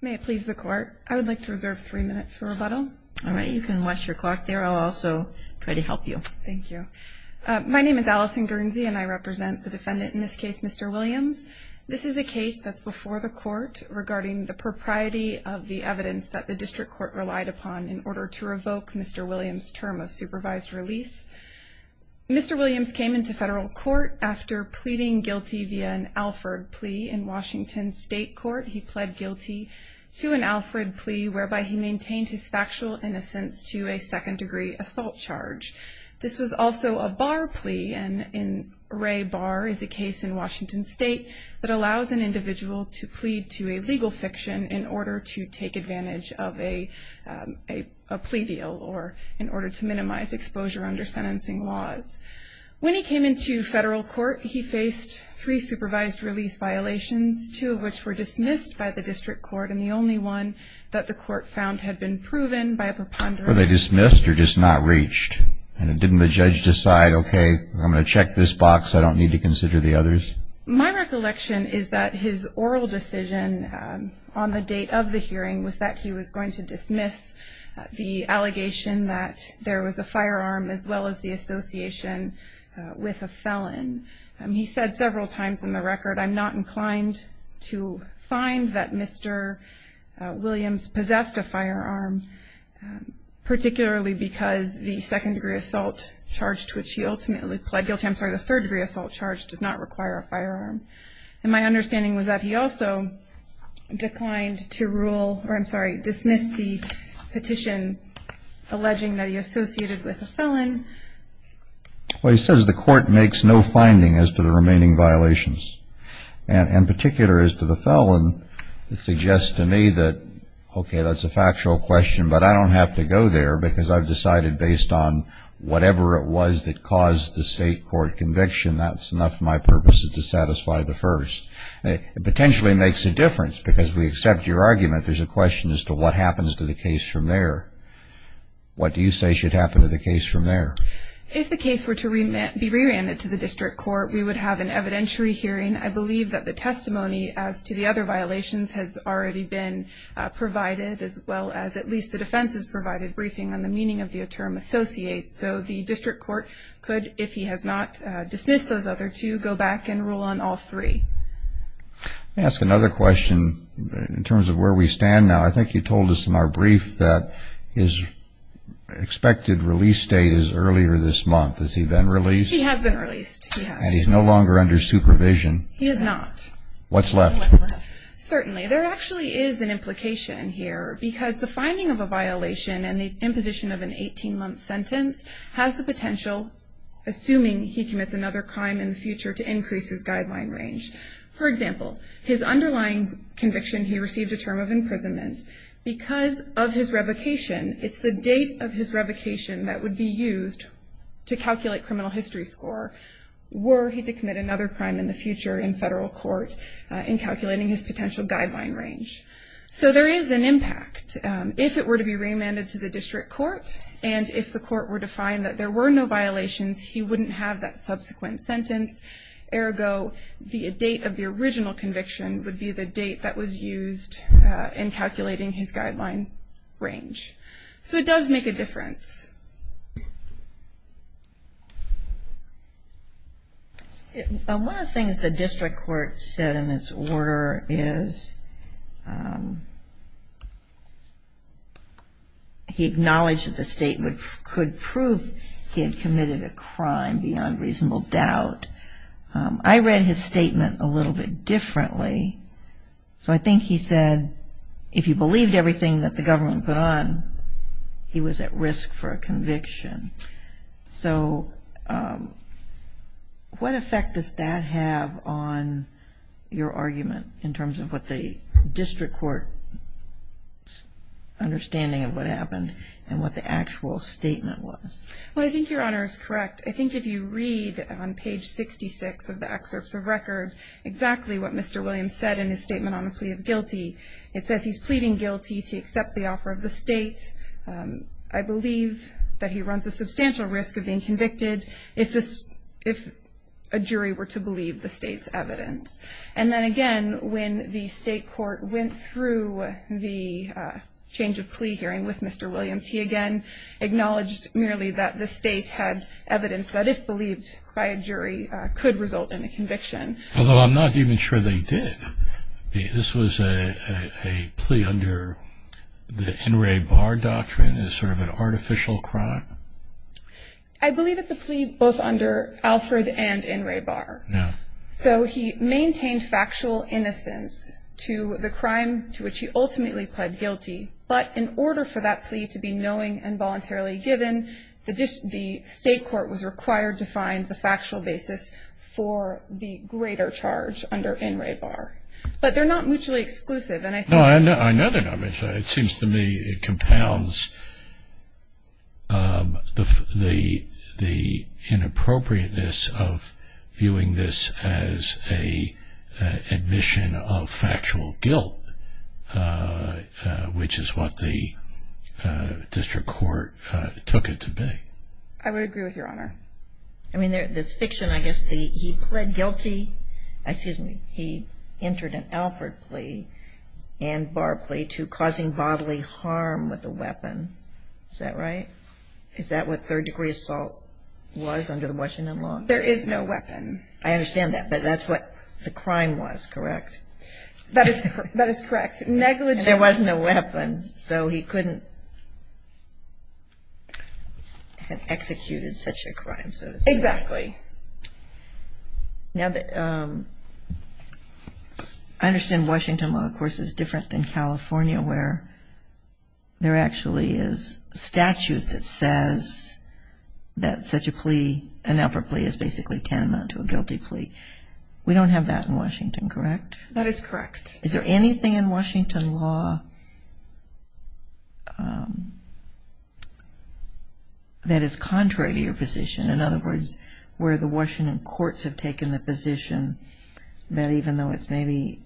may it please the court I would like to reserve three minutes for rebuttal all right you can watch your clock there I'll also try to help you thank you my name is Allison Guernsey and I represent the defendant in this case mr. Williams this is a case that's before the court regarding the propriety of the evidence that the district court relied upon in order to revoke mr. Williams term of supervised release mr. Williams came into federal court after pleading guilty via an Alford plea in Washington State Court he pled guilty to an Alfred plea whereby he maintained his factual innocence to a second-degree assault charge this was also a bar plea and in Ray bar is a case in Washington State that allows an individual to plead to a legal fiction in order to take advantage of a plea deal or in order to minimize exposure under sentencing laws when he supervised release violations two of which were dismissed by the district court and the only one that the court found had been proven by a preponderant they dismissed or just not reached and it didn't the judge decide okay I'm gonna check this box I don't need to consider the others my recollection is that his oral decision on the date of the hearing was that he was going to dismiss the allegation that there was a firearm as well as the association with a felon he said several times in the record I'm not inclined to find that mr. Williams possessed a firearm particularly because the second-degree assault charged which he ultimately pled guilty I'm sorry the third-degree assault charge does not require a firearm and my understanding was that he also declined to rule or I'm sorry dismissed the petition alleging that he associated with a felon well he and in particular as to the felon it suggests to me that okay that's a factual question but I don't have to go there because I've decided based on whatever it was that caused the state court conviction that's enough my purpose is to satisfy the first it potentially makes a difference because we accept your argument there's a question as to what happens to the case from there what do you say should happen to the case from there if the case were to remain be rerouted to the district court we would have an evidentiary hearing I believe that the testimony as to the other violations has already been provided as well as at least the defense's provided briefing on the meaning of the term associates so the district court could if he has not dismissed those other to go back and rule on all three ask another question in terms of where we stand now I think you told us in our brief that is expected release date is earlier this month has he been released he has been released he's no longer under supervision he has not what's left certainly there actually is an implication here because the finding of a violation and the imposition of an 18-month sentence has the potential assuming he commits another crime in the future to increase his guideline range for example his underlying conviction he received a term of imprisonment because of his revocation it's the date of his revocation that would be used to calculate criminal history score were he to commit another crime in the future in federal court in calculating his potential guideline range so there is an impact if it were to be remanded to the district court and if the court were to find that there were no violations he wouldn't have that subsequent sentence ergo the date of the original conviction would be the date that was used in guideline range so it does make a difference one of the things the district court said in its order is he acknowledged that the statement could prove he had committed a crime beyond reasonable doubt I read his statement a little bit differently so I think he said if you put on he was at risk for a conviction so what effect does that have on your argument in terms of what the district court understanding of what happened and what the actual statement was I think your honor is correct I think if you read on page 66 of the excerpts of record exactly what Mr. Williams said in pleading guilty to accept the offer of the state I believe that he runs a substantial risk of being convicted if this if a jury were to believe the state's evidence and then again when the state court went through the change of plea hearing with Mr. Williams he again acknowledged merely that the state had evidence that if believed by a jury could result in a conviction although I'm not even sure they did this was a plea under the NRA bar doctrine is sort of an artificial crime I believe it's a plea both under Alfred and NRA bar yeah so he maintained factual innocence to the crime to which he ultimately pled guilty but in order for that plea to be knowing and voluntarily given the dish the state was required to find the factual basis for the greater charge under NRA bar but they're not mutually exclusive and I know I know that I mean it seems to me it compounds the the the inappropriateness of viewing this as a admission of factual guilt which is what the district court took it to be I would agree with your honor I mean there's fiction I guess the he pled guilty excuse me he entered an Alfred plea and bar plea to causing bodily harm with a weapon is that right is that what third-degree assault was under the Washington law there is no weapon I understand that but that's what the crime was correct that is that is correct negligent there wasn't a weapon so he couldn't have executed such a crime so exactly now that I understand Washington law of course is different than California where there actually is statute that says that such a plea an Alfred plea is basically tantamount to a guilty plea we don't have that in Washington correct that is correct is there anything in Washington law that is contrary to your position in other words where the Washington courts have taken the position that even though it's maybe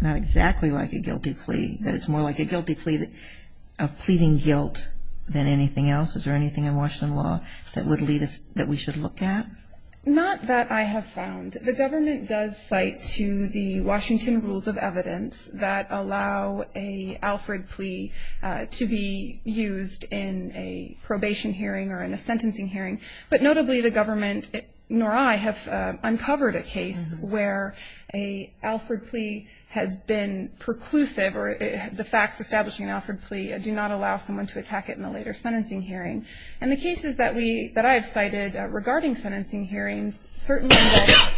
not exactly like a guilty plea that it's more like a guilty plea that of pleading guilt than anything else is there anything in Washington law that would lead us that we should look at not that I have found the government does cite to the Washington rules of evidence that allow a Alfred plea to be used in a probation hearing or in a sentencing hearing but notably the government nor I have uncovered a case where a Alfred plea has been preclusive or the facts establishing Alfred plea do not allow someone to attack it in the later sentencing hearing and the cases that we that I have cited regarding sentencing hearings certainly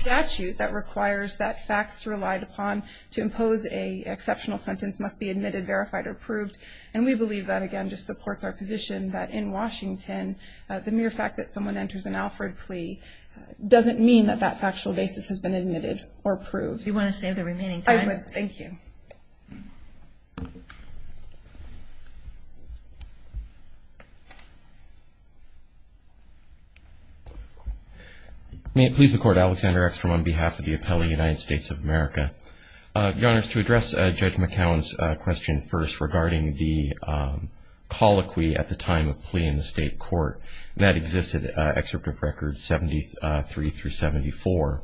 statute that requires that facts relied upon to impose a exceptional sentence must be admitted verified or approved and we believe that again just supports our position that in Washington the mere fact that someone enters an Alfred plea doesn't mean that that factual basis has been admitted or approved you want to say the remaining time thank you may it please the court Alexander X from on behalf of the appellee United States of America the honors to address judge McCown's question first regarding the colloquy at the time of plea in the state court that existed excerpt of records 73 through 74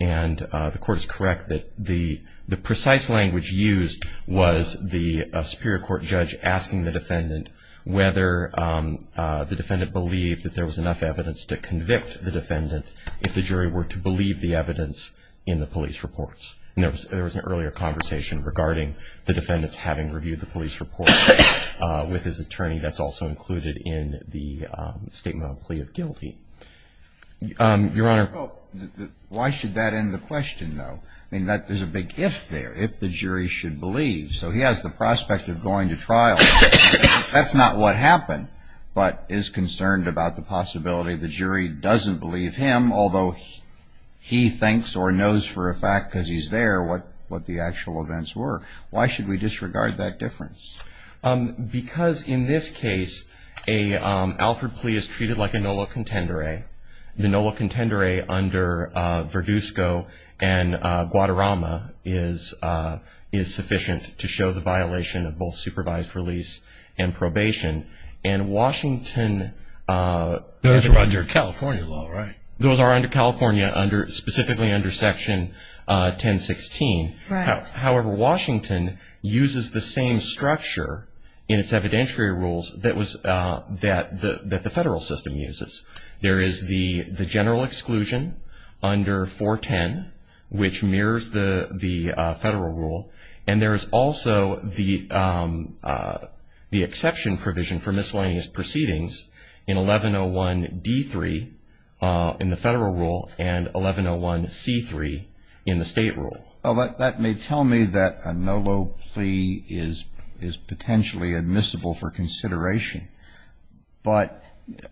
and the court is correct that the the precise language used was the Superior Court judge asking the defendant whether the defendant believed that there was enough evidence to convict the defendant if the jury were to believe the evidence in the police reports there was an earlier conversation regarding the defendants having reviewed the police report with his attorney that's also included in the statement of plea of guilty your honor why should that end the question though I mean that there's a big gift there if the jury should believe so he has the prospect of going to trial that's not what happened but is concerned about the possibility the jury doesn't believe him although he thinks or knows for a fact because he's there what what the actual events were why should we disregard that difference because in this case a Alfred plea is treated like a NOLA contender a the NOLA contender a under Verdusco and Guadarrama is is sufficient to show the violation of both supervised release and probation and Washington those are under California law right those are under California under specifically under section 1016 however Washington uses the same structure in its evidentiary rules that was that the that the federal system uses there is the the general exclusion under 410 which mirrors the the federal rule and there's also the the exception provision for miscellaneous proceedings in 1101 d3 in the federal rule and 1101 c3 in the state rule well that may tell me that a NOLA plea is is potentially admissible for consideration but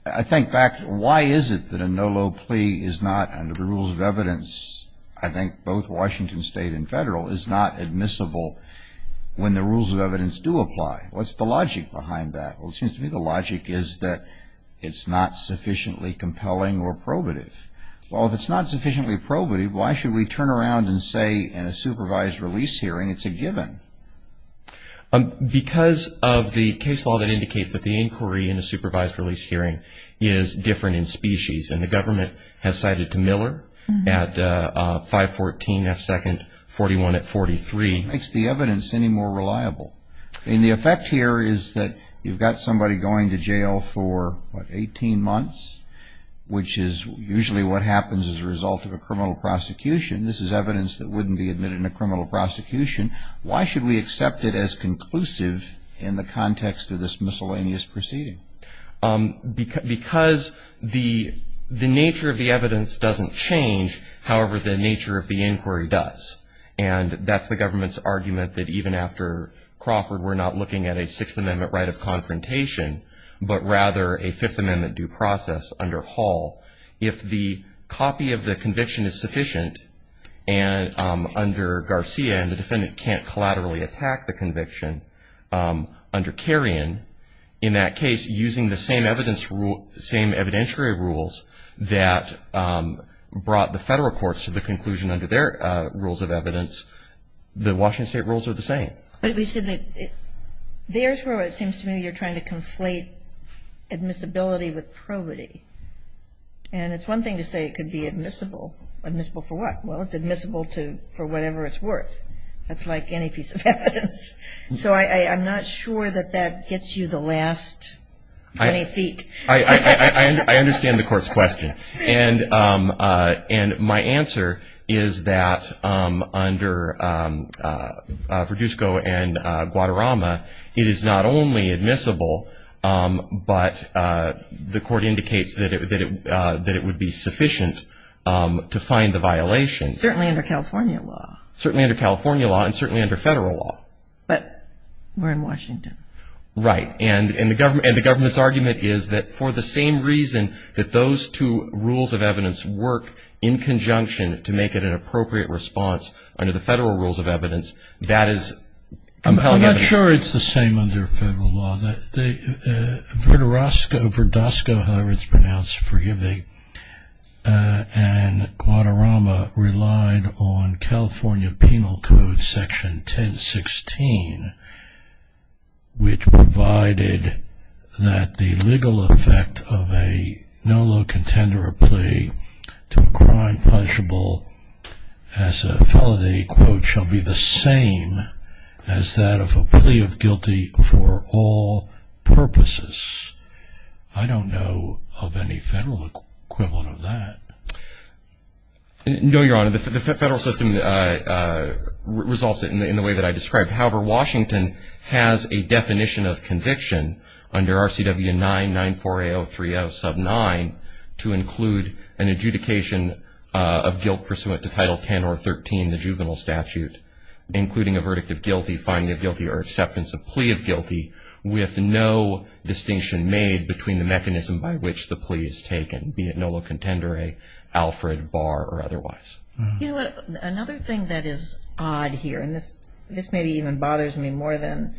I think back why is it that a NOLA plea is not under the rules of evidence I think both Washington state and federal is not admissible when the rules of evidence do apply what's the logic behind that well it seems to me the logic is that it's not sufficiently compelling or probative well if it's not sufficiently probative why should we turn around and say in a supervised release hearing it's a given because of the case law that indicates that the inquiry in a supervised release hearing is different in species and the at 514 F second 41 at 43 makes the evidence any more reliable and the effect here is that you've got somebody going to jail for 18 months which is usually what happens as a result of a criminal prosecution this is evidence that wouldn't be admitted in a criminal prosecution why should we accept it as conclusive in the context of this miscellaneous proceeding because because the the nature of the evidence doesn't change however the nature of the inquiry does and that's the government's argument that even after Crawford we're not looking at a Sixth Amendment right of confrontation but rather a Fifth Amendment due process under Hall if the copy of the conviction is sufficient and under Garcia and the defendant can't collaterally attack the conviction under in that case using the same evidence rule same evidentiary rules that brought the federal courts to the conclusion under their rules of evidence the Washington state rules are the same but we said that it there's where it seems to me you're trying to conflate admissibility with probity and it's one thing to say it could be admissible admissible for what well it's admissible to for whatever it's worth that's like any piece of evidence so I I'm not sure that that gets you the last feet I understand the court's question and and my answer is that under Verduzco and Guadarrama it is not only admissible but the court indicates that it that it would be sufficient to find the violation certainly under California law certainly under California law and certainly under federal law but we're in Washington right and in the government and the government's argument is that for the same reason that those two rules of evidence work in conjunction to make it an appropriate response under the federal rules of evidence that is I'm not sure it's the same under federal law that Verduzco however it's pronounced forgiving and Guadarrama relied on California Penal Code section 1016 which provided that the legal effect of a no low contender a plea to a crime punishable as a felony quote shall be the same as that of a plea of guilty for all purposes I don't know of any federal equivalent of that no your honor the federal system results in the way that I described however Washington has a definition of conviction under RCW 9 9 4 a 0 3 of sub 9 to include an adjudication of guilt pursuant to title 10 or 13 the juvenile statute including a verdict of guilty finding of guilty or acceptance of plea of guilty with no distinction made between the mechanism by which the plea is taken be it no low contender a Alfred Barr or otherwise you know what another thing that is odd here and this this may be even bothers me more than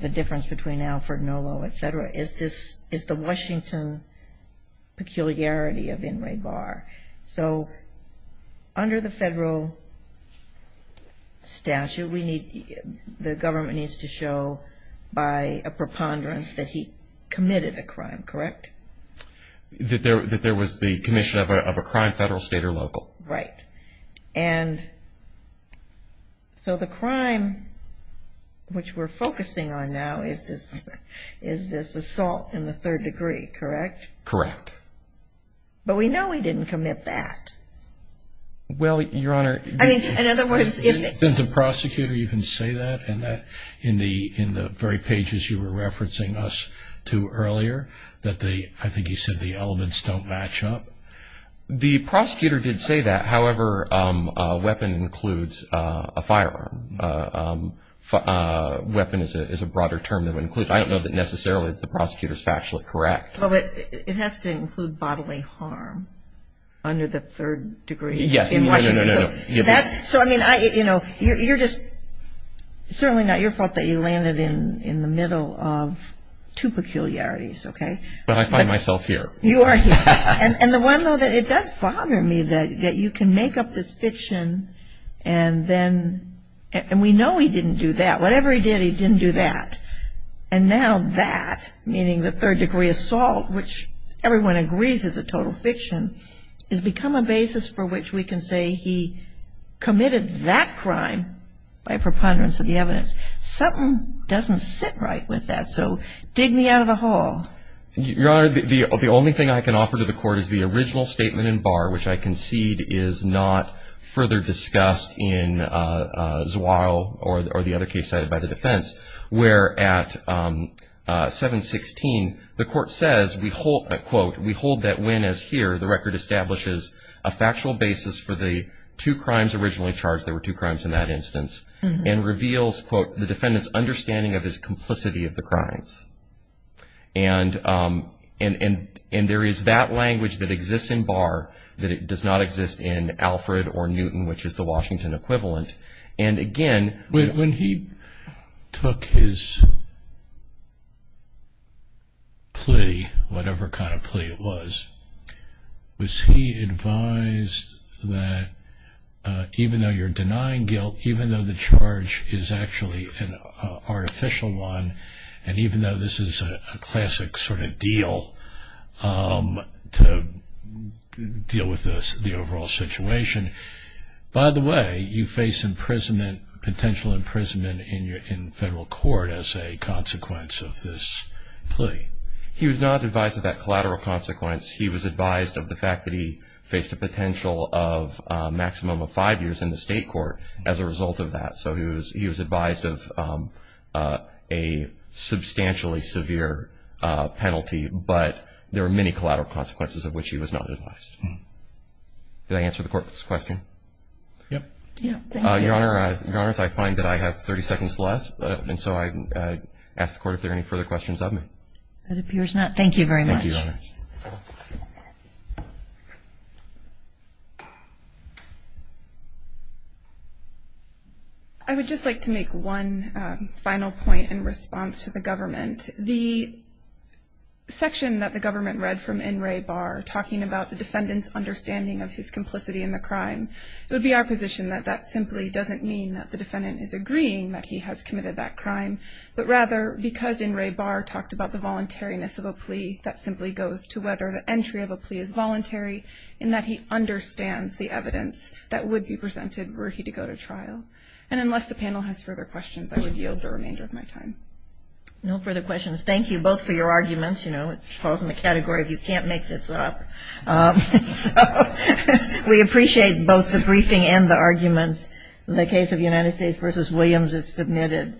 the difference between Alfred no low etc is this is the Washington peculiarity of in Ray bar so under the the government needs to show by a preponderance that he committed a crime correct that there that there was the commission of a crime federal state or local right and so the crime which we're focusing on now is this is this assault in the third degree correct correct but we know we didn't commit that well your prosecutor you can say that and that in the in the very pages you were referencing us to earlier that they I think you said the elements don't match up the prosecutor did say that however weapon includes a firearm weapon is a broader term to include I don't know that necessarily the prosecutors factually correct it has to include bodily harm under the third degree yes so I mean I you know you're just certainly not your fault that you landed in in the middle of two peculiarities okay well I find myself here you are and and the one though that it does bother me that that you can make up this fiction and then and we know he didn't do that whatever he did he didn't do that and now that meaning the third degree assault which everyone agrees is a total fiction is become a basis for which we can say he committed that crime by preponderance of the evidence something doesn't sit right with that so dig me out of the hall your honor the only thing I can offer to the court is the original statement in bar which I concede is not further discussed in swallow or the other case cited by the defense where at 716 the court says we hold that when as here the record establishes a factual basis for the two crimes originally charged there were two crimes in that instance and reveals quote the defendants understanding of his complicity of the crimes and and and there is that language that exists in bar that it does not exist in Alfred or Newton which is the Washington equivalent and again when he took his plea whatever kind of plea it was was he advised that even though you're denying guilt even though the charge is actually an artificial one and even though this is a classic sort of deal to deal with this the overall situation by the way you face imprisonment potential imprisonment in your in federal court as a consequence of this plea he was not advised that collateral consequence he was advised of the fact that he faced a potential of maximum of five years in the state court as a result of that so he was he was advised of a substantially severe penalty but there are many collateral consequences of which he was not advised to answer the court's question yeah I find that I have 30 questions of me I would just like to make one final point in response to the government the section that the government read from in Ray bar talking about the defendants understanding of his complicity in the crime would be our position that that simply doesn't mean that the defendant is agreeing that he has committed that crime but rather because in Ray bar talked about the voluntariness of a plea that simply goes to whether the entry of a plea is voluntary in that he understands the evidence that would be presented were he to go to trial and unless the panel has further questions I would yield the remainder of my time no further questions thank you both for your arguments you know it falls in the category of you can't make this up we appreciate both the briefing and the arguments in the case of United States vs. Williams is submitted